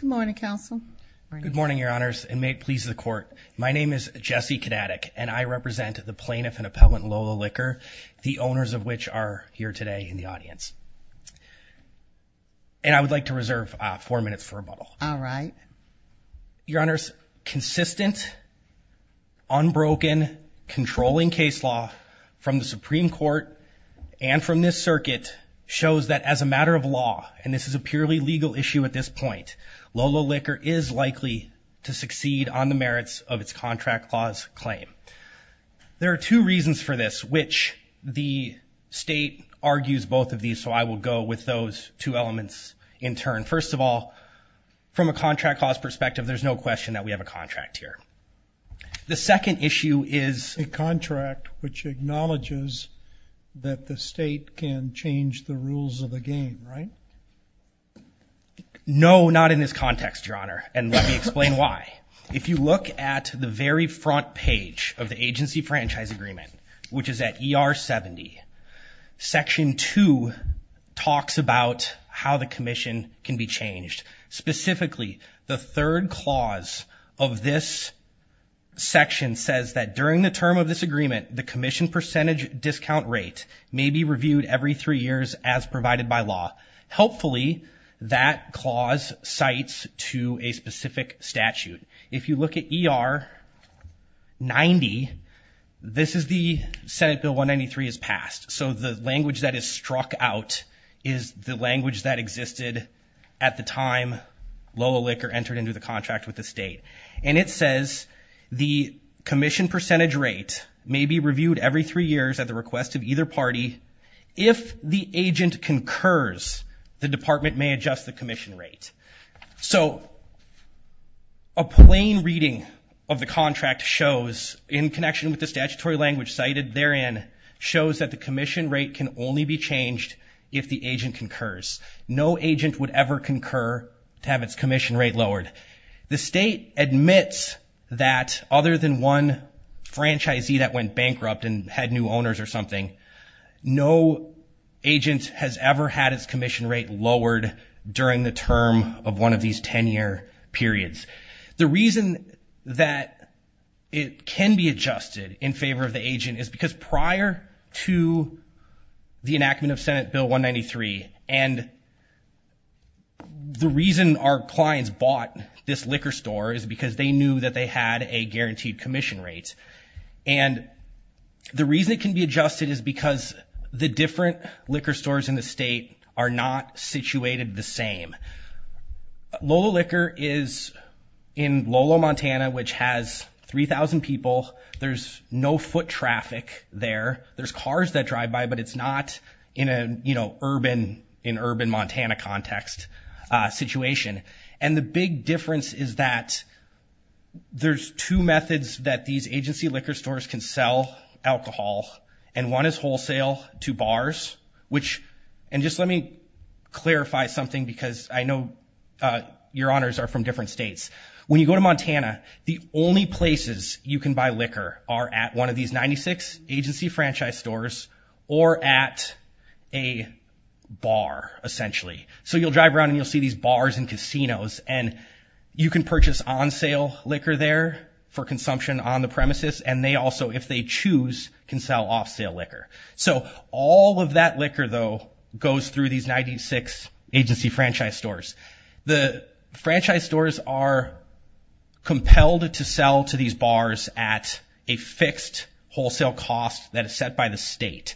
Good morning, Counsel. Good morning, Your Honors, and may it please the Court. My name is Jesse Kodatek, and I represent the plaintiff and appellant Lola Liquor, the owners of which are here today in the audience. And I would like to reserve four minutes for rebuttal. All right. Your Honors, consistent, unbroken, controlling case law from the Supreme Court and from this circuit shows that as a matter of law, and this is a purely legal issue at this point, Lola Liquor is likely to succeed on the merits of its contract clause claim. There are two reasons for this, which the state argues both of these, so I will go with those two elements in turn. First of all, from a contract clause perspective, there's no question that we have a contract here. The second issue is a contract which acknowledges that the state can change the rules of the game, right? No, not in this context, Your Honor, and let me explain why. If you look at the very front page of the Agency Franchise Agreement, which is at ER 70, Section 2 talks about how the Commission can be changed. Specifically, the third clause of this section says that during the term of this agreement, the Commission percentage discount rate may be reviewed every three years as provided by law. Helpfully, that clause cites to a specific statute. If you look at ER 90, this is the Senate Bill 193 is passed, so the language that is struck out is the language that existed at the time Lola Liquor entered into the contract with the state, and it says the Commission percentage rate may be reviewed every three years at the request of either party. If the agent concurs, the department may adjust the Commission rate. So, a plain reading of the contract shows, in connection with the statutory language cited therein, shows that the Commission rate can only be changed if the agent concurs. No agent would ever concur to have its Commission rate lowered. The state admits that, other than one franchisee that went bankrupt and had new owners or something, no agent has ever had its Commission rate lowered during the term of one of these 10-year periods. The reason that it can be adjusted in favor of the agent is prior to the enactment of Senate Bill 193, and the reason our clients bought this liquor store is because they knew that they had a guaranteed Commission rate, and the reason it can be adjusted is because the different liquor stores in the state are not situated the same. Lola Liquor is in Lolo, Montana, which has 3,000 people. There's no foot traffic there. There's cars that drive by, but it's not in an urban Montana context situation, and the big difference is that there's two methods that these agency liquor stores can sell alcohol, and one is wholesale to bars, which, and just let me clarify something because I know your honors are from different states. When you go to Montana, the only places you can buy liquor are at one of these 96 agency franchise stores or at a bar, essentially. So you'll drive around and you'll see these bars and casinos, and you can purchase on-sale liquor there for consumption on the premises, and they also, if they choose, can sell off-sale liquor. So all of that liquor, though, goes through these 96 agency franchise stores. The franchise stores are compelled to sell to these bars at a fixed wholesale cost that is set by the state.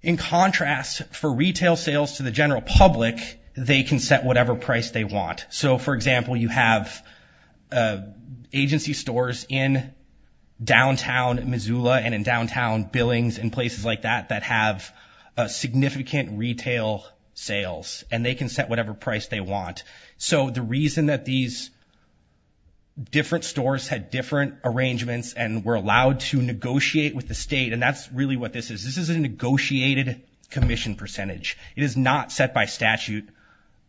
In contrast, for retail sales to the general public, they can set whatever price they want. So, for example, you have agency stores in downtown Missoula and in downtown Billings and places like that that have significant retail sales, and they can set whatever price they want. So the reason that these different stores had different arrangements and were allowed to negotiate with the state, and that's really what this is, this is a negotiated commission percentage. It is not set by statute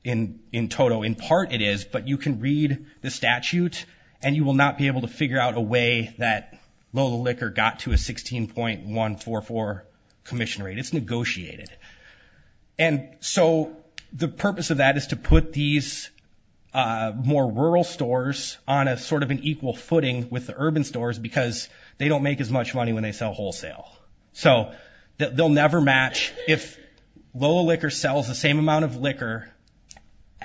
in total. In part, it is, but you can read the statute and you will not be able to figure out a way that Lola Liquor got to a 16.144 commission rate. It's negotiated. And so the purpose of that is to put these more rural stores on a sort of an equal footing with the urban stores because they don't make as much money when they sell wholesale. So they'll never match. If Lola Liquor sells the same amount of liquor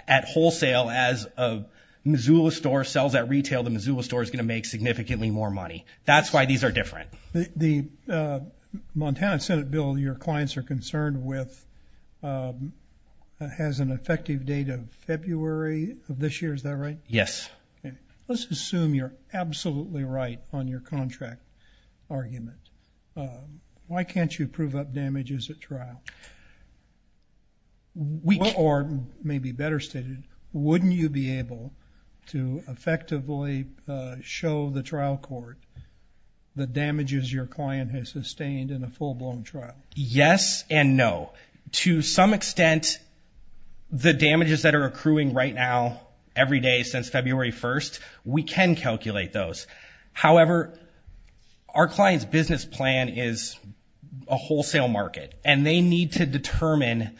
at wholesale as a Missoula store sells at retail, the Missoula store is going to make significantly more money. That's why these are different. The Montana Senate bill your clients are concerned with has an effective date of February of this year, is that right? Yes. Let's assume you're absolutely right on your contract argument. Why can't you prove up damages at trial? Or maybe better stated, wouldn't you be able to effectively show the trial court the damages your client has sustained in a full-blown trial? Yes and no. To some extent, the damages that are accruing right now every day since February 1st, we can calculate those. However, our client's business plan is a wholesale market and they need to determine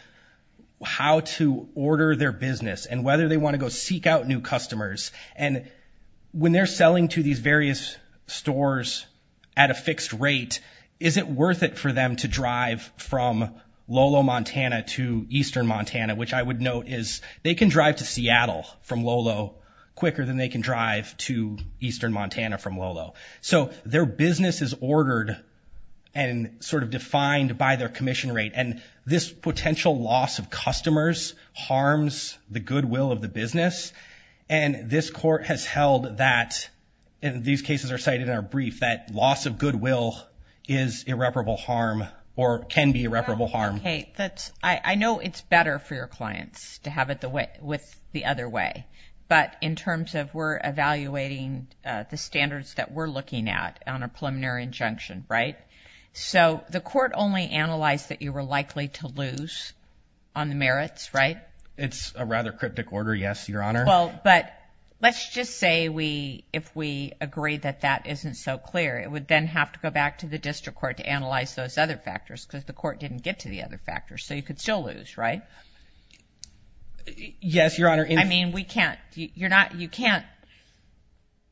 how to order their business and whether they want to go seek out new customers. And when they're selling to these various stores at a fixed rate, is it worth it for them to drive from Lolo, Montana to Eastern Montana, which I would note is they can drive to Seattle from Lolo quicker than they can drive to Eastern Montana from Lolo. So their business is ordered and sort of defined by their commission rate. And this potential loss of customers harms the goodwill of the business. And this court has held that, and these cases are cited in our brief, that loss of goodwill is irreparable harm or can be irreparable harm. I know it's better for your clients to have it with the other way, but in terms of we're evaluating the standards that we're looking at on a preliminary injunction, right? So the court only analyzed that you were likely to lose on the merits, right? It's a rather cryptic order, yes, Your Honor. Well, but let's just say we, if we agree that that isn't so clear, it would then have to go back to the district court to analyze those other factors because the court didn't get to the other factors. So you could still lose, right? Yes, Your Honor. I mean, we can't, you're not, you can't,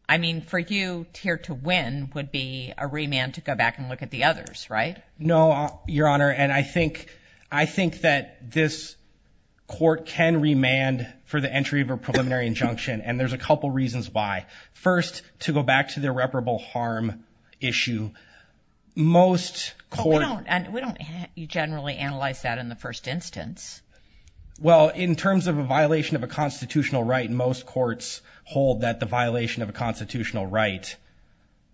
I mean, for you here to win would be a remand to go back and look at the others, right? No, Your Honor, and I think that this court can remand for the entry of a preliminary injunction, and there's a couple reasons why. First, to go back to the irreparable harm issue, most court... We don't, we don't generally analyze that in the first instance. Well, in terms of a violation of a constitutional right, most courts hold that the violation of a constitutional right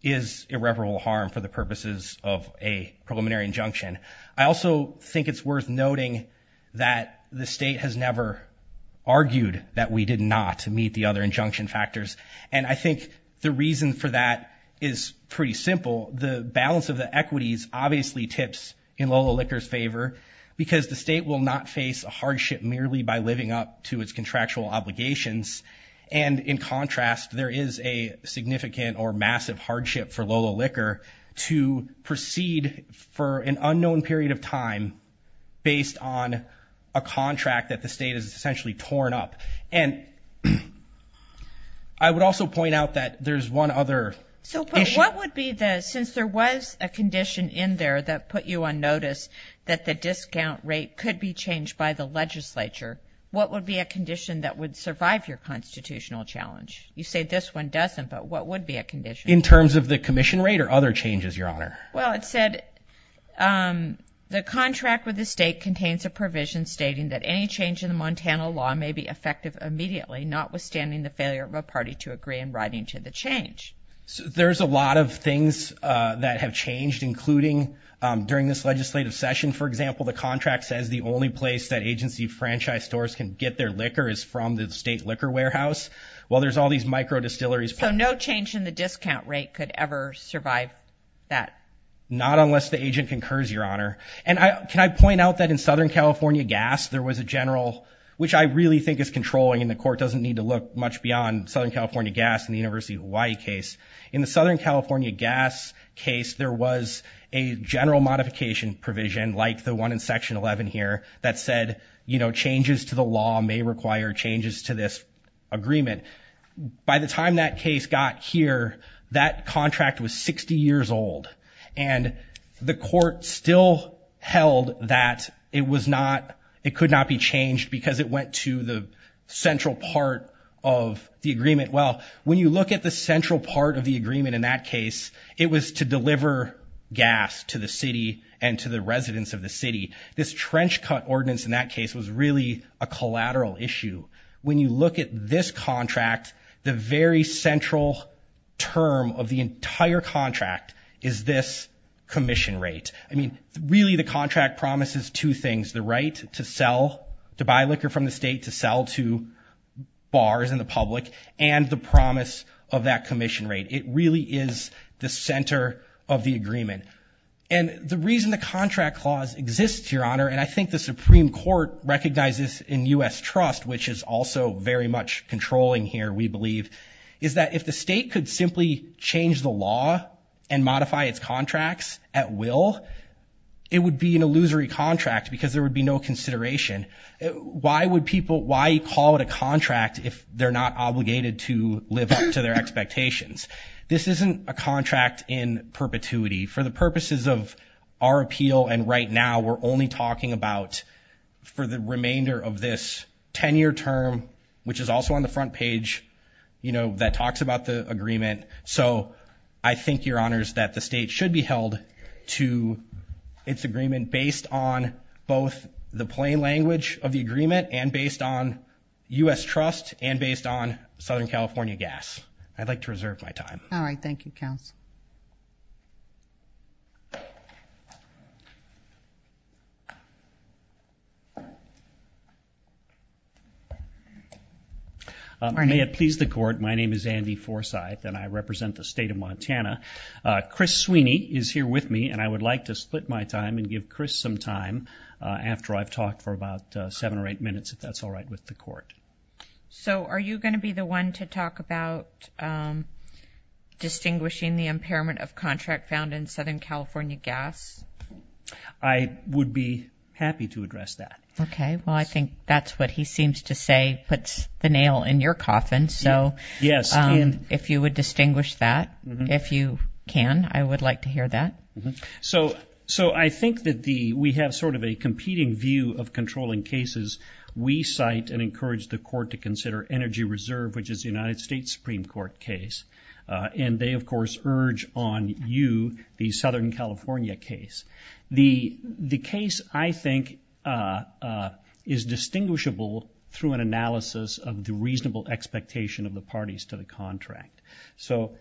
is irreparable harm for the purposes of a preliminary injunction. I also think it's worth noting that the state has never argued that we did not meet the other injunction factors, and I think the reason for that is pretty simple. The balance of the equities obviously tips in Lola Licker's favor because the state will not face a hardship merely by living up to its contractual obligations, and in contrast, there is a significant or massive hardship for Lola Licker to proceed for an unknown period of time based on a contract that the state has essentially torn up, and I would also point out that there's one other... So, but what would be the, since there was a condition in there that put you on notice that the discount rate could be changed by the legislature, what would be a condition that would survive your challenge? You say this one doesn't, but what would be a condition? In terms of the commission rate or other changes, your honor? Well, it said the contract with the state contains a provision stating that any change in the Montana law may be effective immediately, notwithstanding the failure of a party to agree in writing to the change. There's a lot of things that have changed, including during this legislative session, for example, the contract says the only place that agency franchise stores can get their liquor is from the state liquor warehouse. Well, there's all these micro distilleries... So, no change in the discount rate could ever survive that? Not unless the agent concurs, your honor. And I, can I point out that in Southern California gas, there was a general, which I really think is controlling, and the court doesn't need to look much beyond Southern California gas in the University of Hawaii case. In the Southern California gas case, there was a general modification provision, like the one in section 11 here, that said, you know, changes to the law may require changes to this agreement. By the time that case got here, that contract was 60 years old, and the court still held that it was not, it could not be changed because it went to the central part of the agreement. Well, when you look at the central part of the agreement in that case, it was to deliver gas to the city and to the residents of the city. This trench cut ordinance in that case was really a collateral issue. When you look at this contract, the very central term of the entire contract is this commission rate. I mean, really the contract promises two things, the right to sell, to buy liquor from the state, to sell to bars and the public, and the promise of that commission rate. It really is the center of the agreement. And the reason the contract clause exists, Your Honor, and I think the Supreme Court recognizes in U.S. trust, which is also very much controlling here, we believe, is that if the state could simply change the law and modify its contracts at will, it would be an illusory contract because there would be no consideration. Why would people, why call it a contract if they're not obligated to live up to their expectations? This isn't a contract in perpetuity. For the purposes of our we're only talking about for the remainder of this 10-year term, which is also on the front page, you know, that talks about the agreement. So I think, Your Honors, that the state should be held to its agreement based on both the plain language of the agreement and based on U.S. trust and based on Southern California gas. I'd like to reserve my time. All right, thank you, counsel. May it please the Court, my name is Andy Forsyth and I represent the state of Montana. Chris Sweeney is here with me and I would like to split my time and give Chris some time after I've talked for about seven or eight minutes, if that's all right with the Court. So are you going to be the one to talk about distinguishing the impairment of contract found in Southern California gas? I would be happy to address that. Okay, well I think that's what he seems to say puts the nail in your coffin, so if you would distinguish that, if you can, I would like to hear that. So I think that we have sort of a competing view of controlling cases. We cite and encourage the Court to consider Energy Reserve, which is the United States Supreme Court case, and they, of course, urge on you the Southern California case. The case, I think, is distinguishable through an analysis of the reasonable expectation of the parties to the contract. So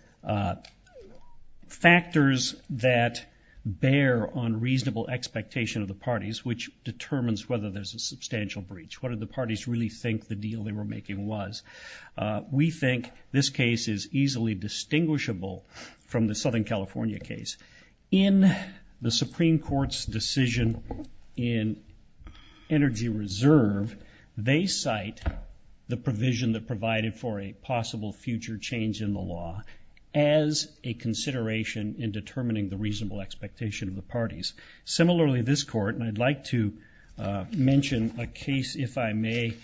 factors that bear on reasonable expectation of the parties, which determines whether there's a substantial breach, what did the We think this case is easily distinguishable from the Southern California case. In the Supreme Court's decision in Energy Reserve, they cite the provision that provided for a possible future change in the law as a consideration in determining the reasonable expectation of the parties. Similarly, this Court, and I'd like to mention a case, if I may,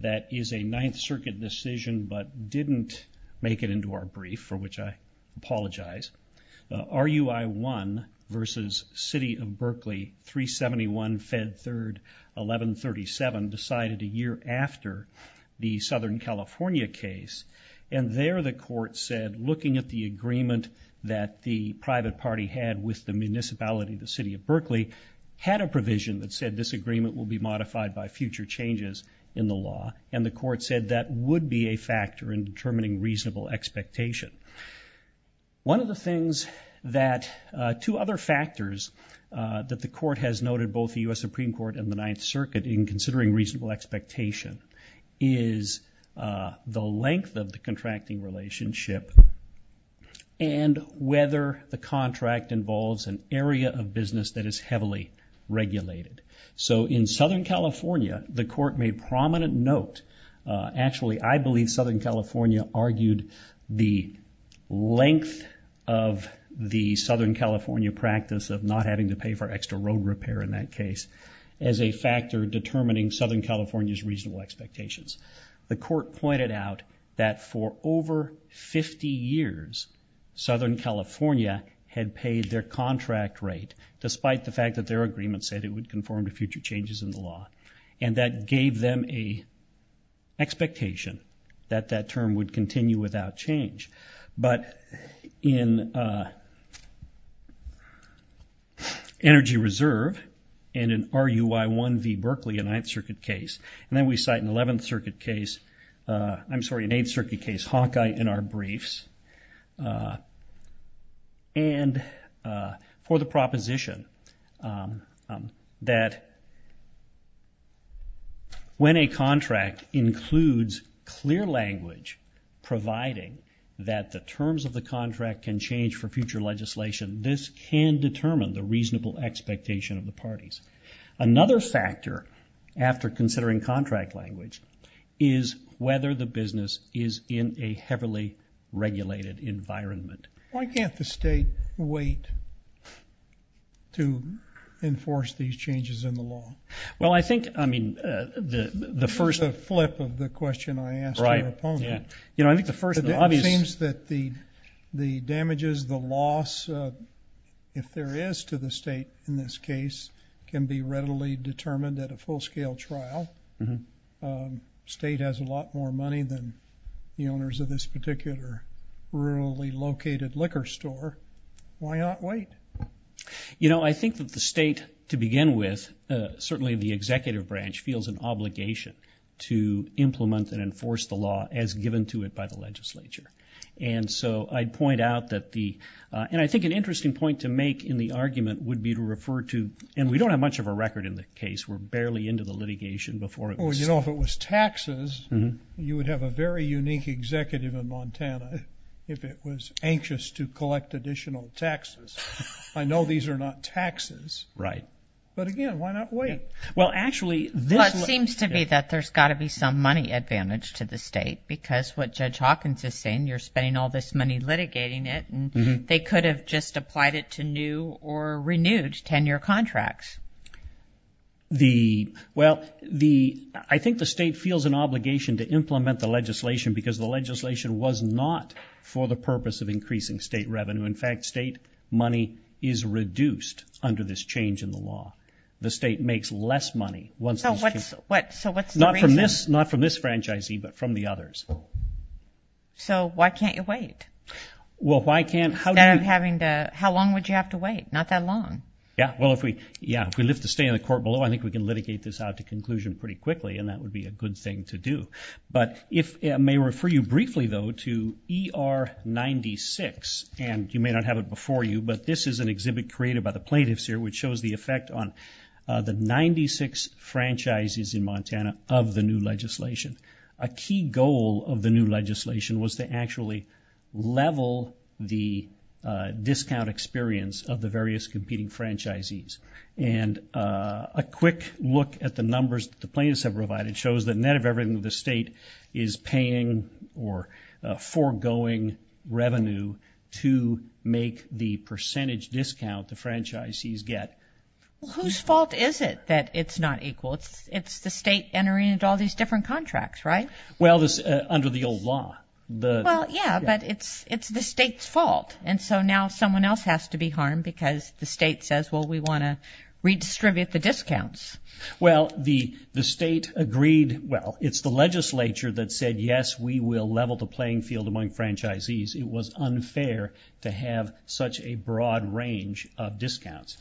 that is a Ninth Circuit decision, but didn't make it into our brief, for which I apologize. RUI-1 versus City of Berkeley, 371 Fed 3rd 1137, decided a year after the Southern California case, and there the Court said, looking at the agreement that the private party had with the municipality, the City of Berkeley, had a provision that said this agreement will be modified by future changes in the law, and the Court said that would be a factor in determining reasonable expectation. One of the things that, two other factors that the Court has noted, both the U.S. Supreme Court and the Ninth Circuit, in considering reasonable expectation, is the length of the contracting relationship and whether the contract involves an area of business that is heavily regulated. So in Southern California, the Court made prominent note, actually I believe Southern California argued the length of the Southern California practice of not having to pay for extra road repair in that case, as a factor determining Southern California's reasonable expectations. The Court pointed out that for over 50 years, Southern California had paid their contract rate, despite the fact that their agreement said it would conform to future changes in the law. And that gave them a expectation that that term would continue without change. But in Energy Reserve, and in RUI 1 v. Berkeley, a Ninth Circuit case, and then we cite an Eighth Circuit case, Hawkeye, in our briefs, and for the Ninth Circuit case, when a contract includes clear language providing that the terms of the contract can change for future legislation, this can determine the reasonable expectation of the parties. Another factor, after considering contract language, is whether the business is in a heavily regulated environment. Why can't the state wait to enforce these changes in the law? Well, I think, I mean, the first... It's a flip of the question I asked your opponent. Right, yeah. You know, I think the first obvious... It seems that the damages, the loss, if there is to the state in this case, can be readily determined at a full-scale trial. State has a lot more money than the owners of this particular rurally located liquor store. Why not wait? You know, I think that the state, to begin with, certainly the executive branch, feels an obligation to implement and enforce the law as given to it by the legislature, and so I'd point out that the... And I think an interesting point to make in the argument would be to refer to, and we don't have much of a record in the case, we're barely into the litigation before it was... Well, you know, if it was taxes, you would have a very unique executive in I know these are not taxes, but again, why not wait? Well, actually... Well, it seems to me that there's got to be some money advantage to the state because what Judge Hawkins is saying, you're spending all this money litigating it, and they could have just applied it to new or renewed tenure contracts. The... Well, the... I think the state feels an obligation to implement the legislation because the legislation was not for the purpose of increasing state revenue. The state is reduced under this change in the law. The state makes less money once... So what's... So what's the reason? Not from this franchisee, but from the others. So why can't you wait? Well, why can't... Instead of having to... How long would you have to wait? Not that long. Yeah. Well, if we... Yeah. If we lift the stay in the court below, I think we can litigate this out to conclusion pretty quickly, and that would be a good thing to do. But if... May refer you briefly, though, to ER 96, and you may not have it before you, but this is an exhibit created by the plaintiffs here, which shows the effect on the 96 franchises in Montana of the new legislation. A key goal of the new legislation was to actually level the discount experience of the various competing franchisees. And a quick look at the numbers that the plaintiffs have provided shows the net or foregoing revenue to make the percentage discount the franchisees get. Whose fault is it that it's not equal? It's the state entering into all these different contracts, right? Well, this... Under the old law. The... Well, yeah, but it's the state's fault, and so now someone else has to be harmed Well, the state agreed... Well, it's the legislature that said, yes, we will level the playing field among franchisees. It was unfair to have such a broad range of discounts.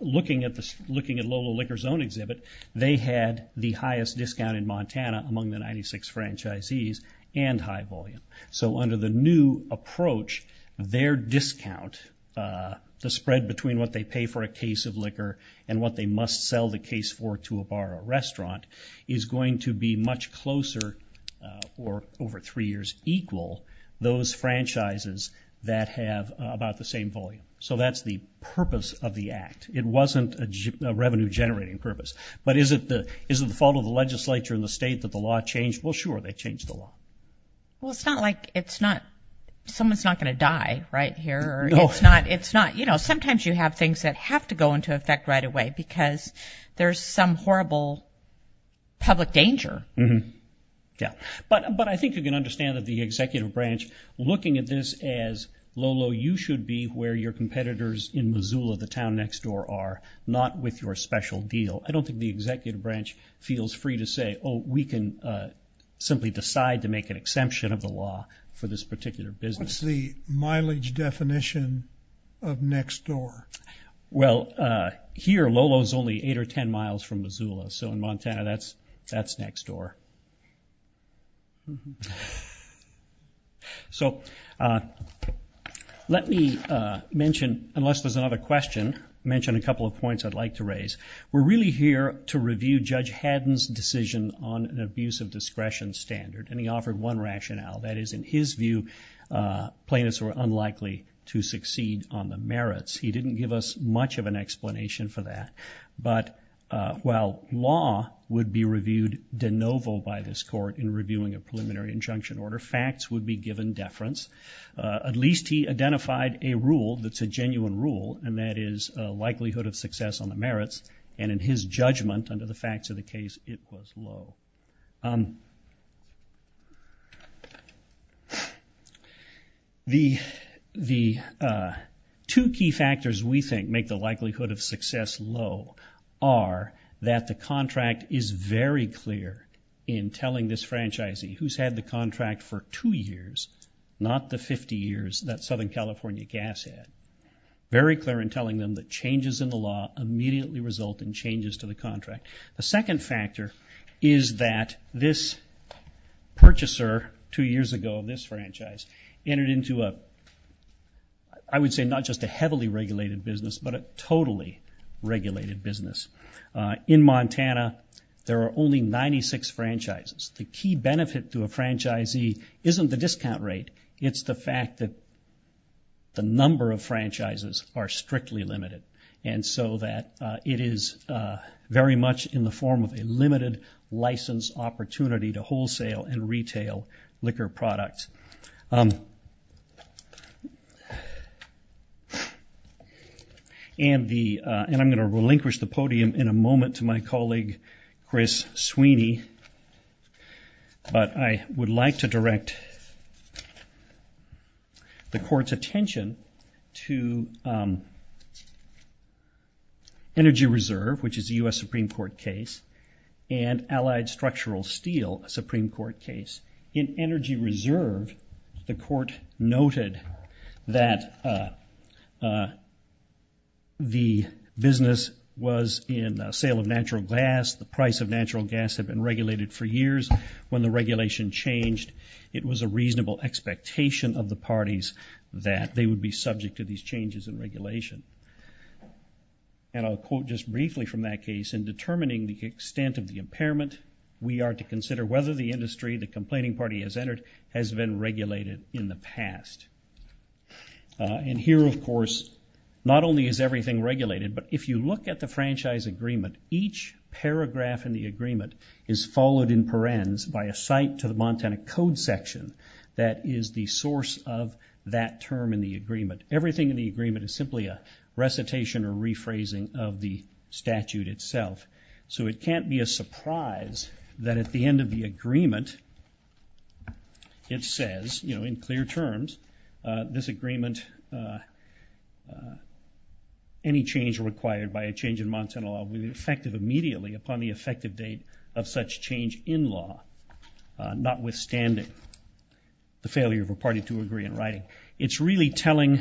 Looking at Lola Liquor's own exhibit, they had the highest discount in Montana among the 96 franchisees, and high volume. So under the new approach, their discount, the spread between what they pay for a case of liquor and what they must sell the case for to a bar or restaurant, is going to be much closer, or over three years, equal those franchises that have about the same volume. So that's the purpose of the act. It wasn't a revenue-generating purpose. But is it the fault of the legislature and the state that the law changed? Well, sure, they changed the law. Well, it's not like it's not... Someone's not going to die, right, here. It's not... You know, sometimes you have things that have to go into effect right away, because there's some horrible public danger. Mm-hmm. Yeah. But I think you can understand that the executive branch, looking at this as, Lolo, you should be where your competitors in Missoula, the town next door, are, not with your special deal. I don't think the executive branch feels free to say, oh, we can simply decide to make an exemption of the law for this particular business. What's the mileage definition of next door? Well, here, Lolo's only eight or ten miles from Missoula. So in Montana, that's next door. So let me mention, unless there's another question, mention a couple of points I'd like to raise. We're really here to review Judge Haddon's decision on an abuse of discretion standard, and he offered one rationale. That is, in his view, plaintiffs were unlikely to succeed on the merits. He didn't give us much of an explanation for that. But while law would be reviewed de novo by this court in reviewing a preliminary injunction order, facts would be given deference. At least he identified a rule that's a genuine rule, and that is likelihood of success on the merits. And in his judgment, under the facts of the case, it was low. The two key factors we think make the likelihood of success low are that the contract is very clear in telling this franchisee who's had the contract for two years, not the 50 years that Southern California Gas had, very clear in telling them that changes in the law immediately result in changes to the contract. The second factor is that this purchaser two years ago, this franchise, entered into a, I would say, not just a heavily regulated business, but a totally regulated business. In Montana, there are only 96 franchises. The key benefit to a franchisee isn't the discount rate. It's the fact that the number of franchises are strictly limited. And so that it is very much in the form of a limited license opportunity to wholesale and retail liquor products. And I'm going to relinquish the podium in a moment to my colleague, Chris Sweeney. But I would like to direct the court's attention to Energy Reserve, which is a US Supreme Court case, and Allied Structural Steel, a Supreme Court case. In Energy Reserve, the court noted that the business was in sale of natural gas. The price of natural gas had been regulated for years. When the regulation changed, it was a reasonable expectation of the parties that they would be subject to these changes in regulation. And I'll quote just briefly from that case. In determining the extent of the impairment, we are to consider whether the industry the complaining party has entered has been regulated in the past. And here, of course, not only is everything regulated, but if you look at the franchise agreement, each paragraph in the agreement is followed in parens by a cite to the Montana Code section that is the source of that term in the agreement. Everything in the agreement is simply a recitation or rephrasing of the statute itself. So it can't be a surprise that at the end of the agreement, it says, you know, in clear terms, this agreement, any change required by a change in Montana law will be effective immediately upon the effective date of such change in law, notwithstanding the failure of a party to agree in writing. It's really telling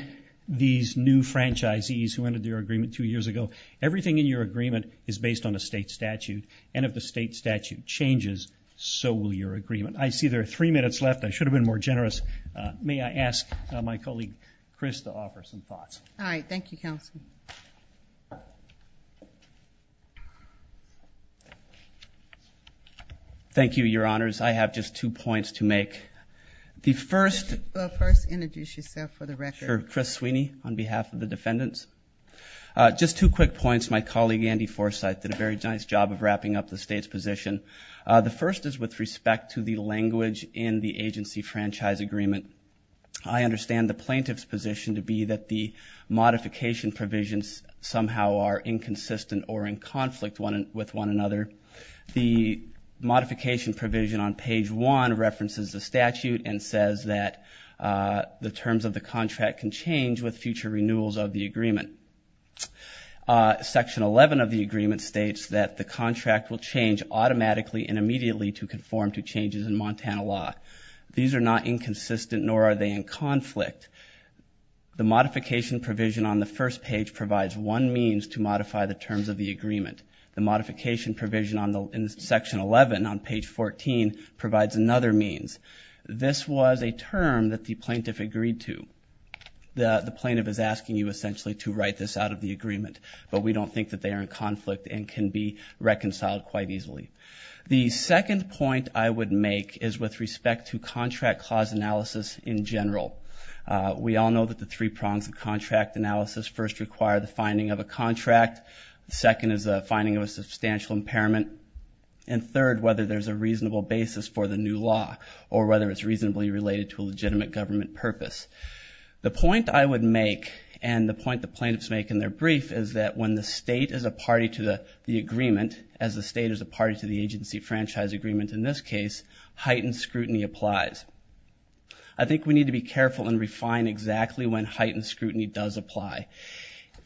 these new franchisees who entered their agreement two years ago, everything in your agreement is based on a state statute, and if the state statute changes, so will your agreement. I see there are three minutes left. I should have been more generous. May I ask my colleague, Chris, to offer some thoughts? All right. Thank you, counsel. Thank you, your honors. I have just two points to make. The first... First, introduce yourself for the record. Sure. Chris Sweeney on behalf of the defendants. Just two quick points. My colleague, Andy Forsyth, did a very nice job of wrapping up the state's position. The first is with respect to the language in the agency franchise agreement. I understand the plaintiff's position to be that the modification provisions somehow are inconsistent or in conflict with one another. The modification provision on page one references the statute and says that the terms of the contract can change with future renewals of the agreement. Section 11 of the agreement states that the contract will change automatically and immediately to conform to changes in Montana law. These are not inconsistent, nor are they in conflict. The modification provision on the first page provides one means to modify the terms of the agreement. The modification provision in section 11 on page 14 provides another means. This was a term that the plaintiff agreed to. The plaintiff is asking you essentially to write this out of the agreement, but we don't think that they are in conflict and can be reconciled quite easily. The second point I would make is with respect to contract clause analysis in general. We all know that the three prongs of contract analysis first require the finding of a contract, second is the finding of a substantial impairment, and third, whether there's a reasonable basis for the new law or whether it's reasonably related to a legitimate government purpose. The point I would make and the point the plaintiffs make in their brief is that when the state is a party to the agreement, as the state is a party to the agency franchise agreement in this case, heightened scrutiny applies. I think we need to be careful and refine exactly when heightened scrutiny does apply.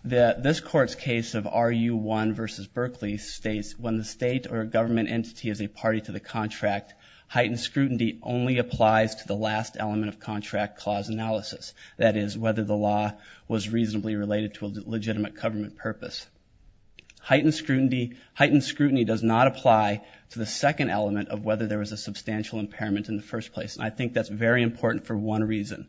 This court's case of RU1 versus Berkeley states when the state or government entity is a party to the contract, heightened scrutiny only applies to the last element of contract clause analysis, that is, whether the law was reasonably related to a legitimate government purpose. Heightened scrutiny does not apply to the second element of whether there was a substantial impairment in the first place, and I think that's very important for one reason.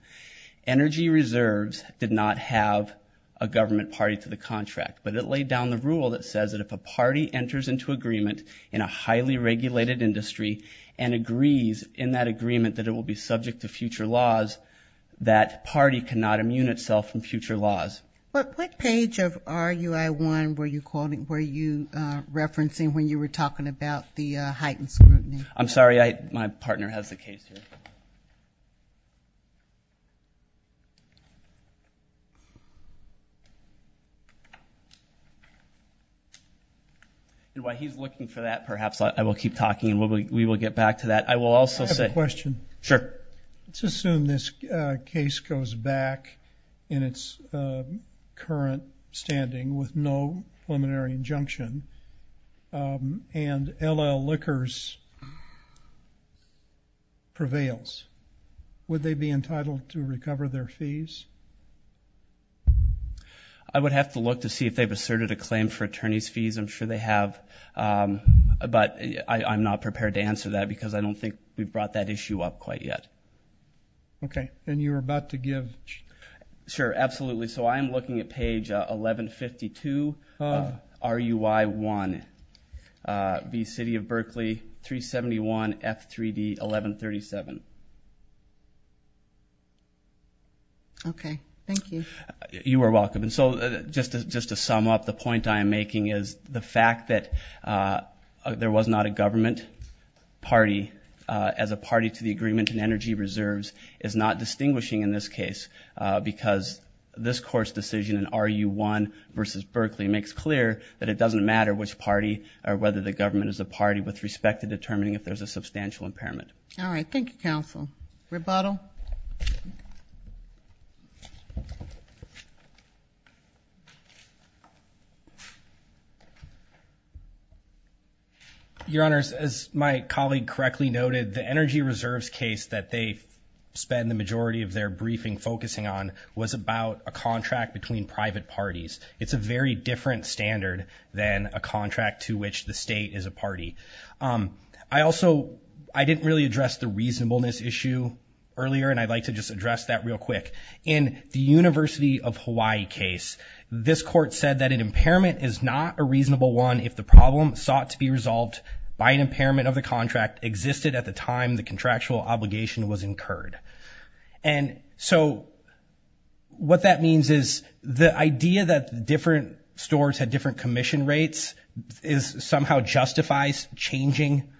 Energy reserves did not have a government party to the contract, but it laid down the industry and agrees in that agreement that it will be subject to future laws, that party cannot immune itself from future laws. What page of RUI1 were you referencing when you were talking about the heightened scrutiny? I'm sorry. My partner has the case here, and while he's looking for that, perhaps I will keep talking and we will get back to that. I will also say... I have a question. Sure. Let's assume this case goes back in its current standing with no preliminary injunction, and LL Liquors prevails. Would they be entitled to recover their fees? I would have to look to see if they've asserted a claim for attorney's fees. I'm sure they have, but I'm not prepared to answer that because I don't think we've brought that issue up quite yet. Okay. And you were about to give... Sure. Absolutely. So I am looking at page 1152 of RUI1, the City of Berkeley, 371F3D1137. Okay. Thank you. You are welcome. So just to sum up, the point I am making is the fact that there was not a government party as a party to the agreement in energy reserves is not distinguishing in this case because this court's decision in RUI1 versus Berkeley makes clear that it doesn't matter which party or whether the government is a party with respect to determining if there's a substantial impairment. All right. Thank you, counsel. Rebuttal? Your Honors, as my colleague correctly noted, the energy reserves case that they spend the majority of their briefing focusing on was about a contract between private parties. It's a very different standard than a contract to which the state is a party. I also... I didn't really address the reasonableness issue earlier and I'd like to just address that real quick. In the University of Hawaii case, this court said that an impairment is not a reasonable one if the problem sought to be resolved by an impairment of the contract existed at the time the contractual obligation was incurred. And so what that means is the idea that different stores had different commission rates somehow justifies changing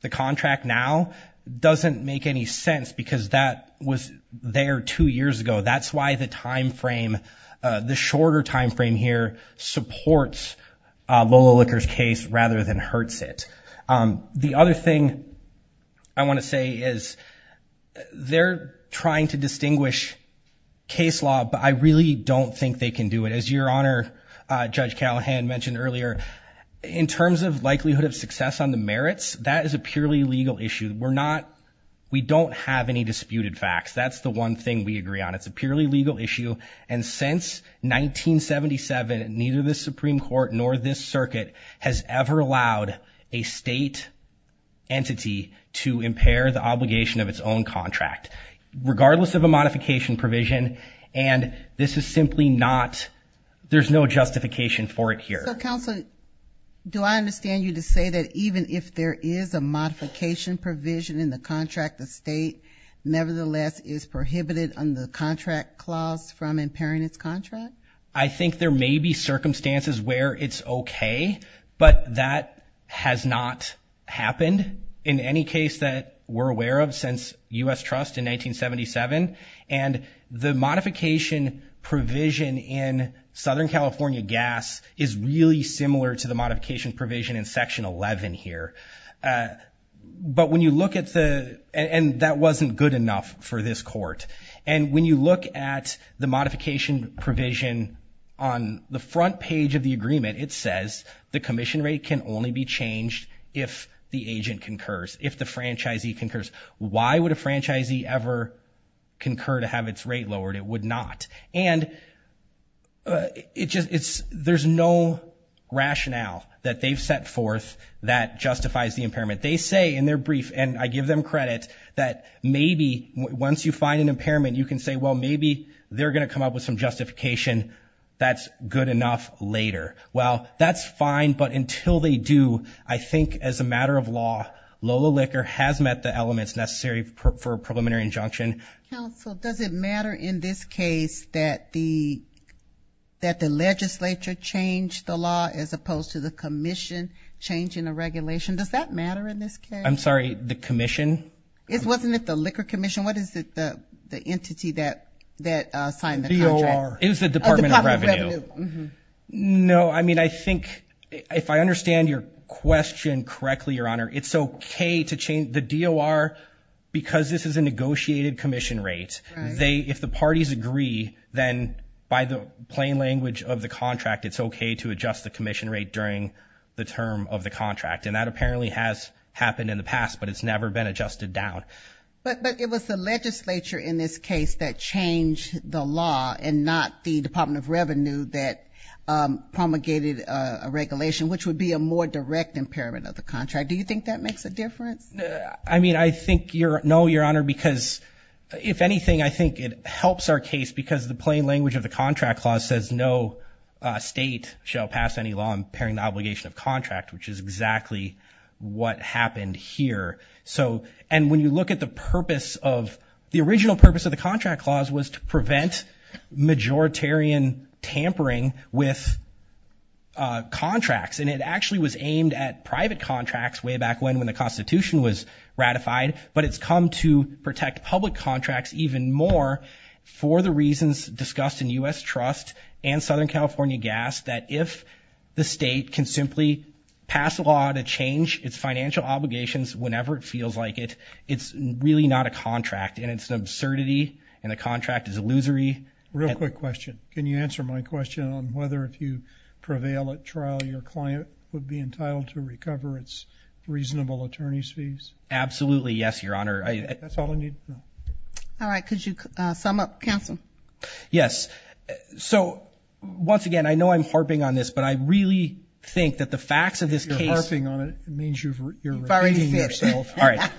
the contract now doesn't make any sense because that was there two years ago. That's why the time frame, the shorter time frame here supports Lola Licker's case rather than hurts it. The other thing I want to say is they're trying to distinguish case law, but I really don't think they can do it. As your Honor, Judge Callahan mentioned earlier, in terms of likelihood of success on the merits, that is a purely legal issue. We don't have any disputed facts. That's the one thing we agree on. It's a purely legal issue. And since 1977, neither the Supreme Court nor this circuit has ever allowed a state entity to impair the obligation of its own contract, regardless of a modification provision. And this is simply not, there's no justification for it here. So Counselor, do I understand you to say that even if there is a modification provision in the contract, the state nevertheless is prohibited on the contract clause from impairing its contract? I think there may be circumstances where it's okay, but that has not happened in any case that we're aware of since U.S. Trust in 1977. And the modification provision in Southern California Gas is really similar to the modification provision in Section 11 here. But when you look at the, and that wasn't good enough for this court. And when you look at the modification provision on the front page of the agreement, it says the commission rate can only be changed if the agent concurs, if the franchisee concurs. Why would a franchisee ever concur to have its rate lowered? It would not. And it just, it's, there's no rationale that they've set forth that justifies the impairment. They say in their brief, and I give them credit, that maybe once you find an impairment, you can say, well, maybe they're going to come up with some justification that's good enough later. Well, that's fine, but until they do, I think as a matter of law, Lola Liquor has met the elements necessary for a preliminary injunction. Counsel, does it matter in this case that the, that the legislature changed the law as opposed to the commission changing the regulation? Does that matter in this case? I'm sorry, the commission? It wasn't at the Liquor Commission. What is it, the entity that, that signed the contract? DOR. It was the Department of Revenue. Of the Department of Revenue. Mm-hmm. No, I mean, I think if I understand your question correctly, Your Honor, it's okay to change, the DOR, because this is a negotiated commission rate, they, if the parties agree, then by the plain language of the contract, it's okay to adjust the commission rate during the term of the contract. And that apparently has happened in the past, but it's never been adjusted down. But, but it was the legislature in this case that changed the law and not the Department of Revenue that promulgated a regulation, which would be a more direct impairment of the contract. Do you think that makes a difference? I mean, I think you're, no, Your Honor, because if anything, I think it helps our case because the plain language of the contract clause says no state shall pass any law impairing the obligation of contract, which is exactly what happened here. So, and when you look at the purpose of, the original purpose of the contract clause was to prevent majoritarian tampering with contracts, and it actually was aimed at private contracts way back when, when the constitution was ratified, but it's come to protect public contracts even more for the reasons discussed in US Trust and Southern California Gas, that if the state can simply pass a law to change its financial obligations whenever it feels like it, it's really not a contract and it's an absurdity and the contract is illusory. Real quick question. Can you answer my question on whether if you prevail at trial, your client would be entitled to recover its reasonable attorney's fees? Absolutely. Yes, Your Honor. That's all I need to know. All right. Could you sum up, counsel? Yes. So, once again, I know I'm harping on this, but I really think that the facts of this case... If you're harping on it, it means you're repeating yourself. All right.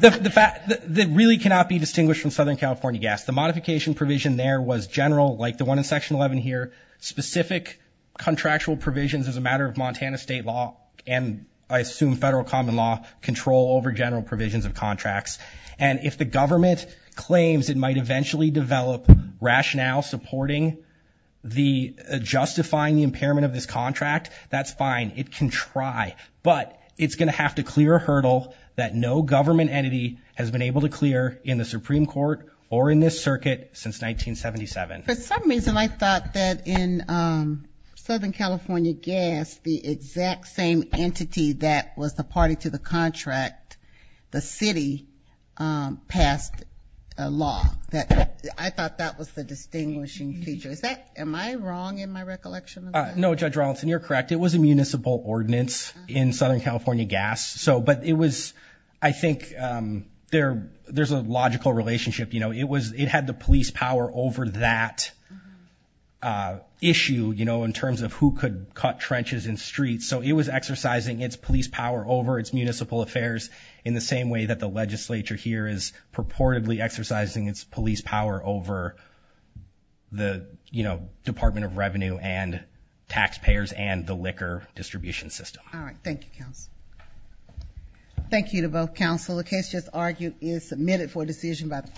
The fact that really cannot be distinguished from Southern California Gas, the modification provision there was general, like the one in section 11 here, specific contractual provisions as a matter of Montana state law, and I assume federal common law, control over general provisions of contracts. And if the government claims it might eventually develop rationale supporting the justifying the impairment of this contract, that's fine. It can try, but it's going to have to clear a hurdle that no government entity has been able to clear in the Supreme Court or in this circuit since 1977. For some reason, I thought that in Southern California Gas, the exact same entity that was the party to the contract, the city, passed a law that I thought that was the distinguishing feature. Is that... Am I wrong in my recollection of that? No, Judge Rawlinson. You're correct. It was a municipal ordinance in Southern California Gas, but it was... I think there's a logical relationship. It had the police power over that issue in terms of who could cut trenches and streets. So it was exercising its police power over its municipal affairs in the same way that the legislature here is purportedly exercising its police power over the Department of Revenue and taxpayers and the liquor distribution system. All right. Thank you, counsel. Thank you to both counsel. The case just argued is submitted for decision by the court.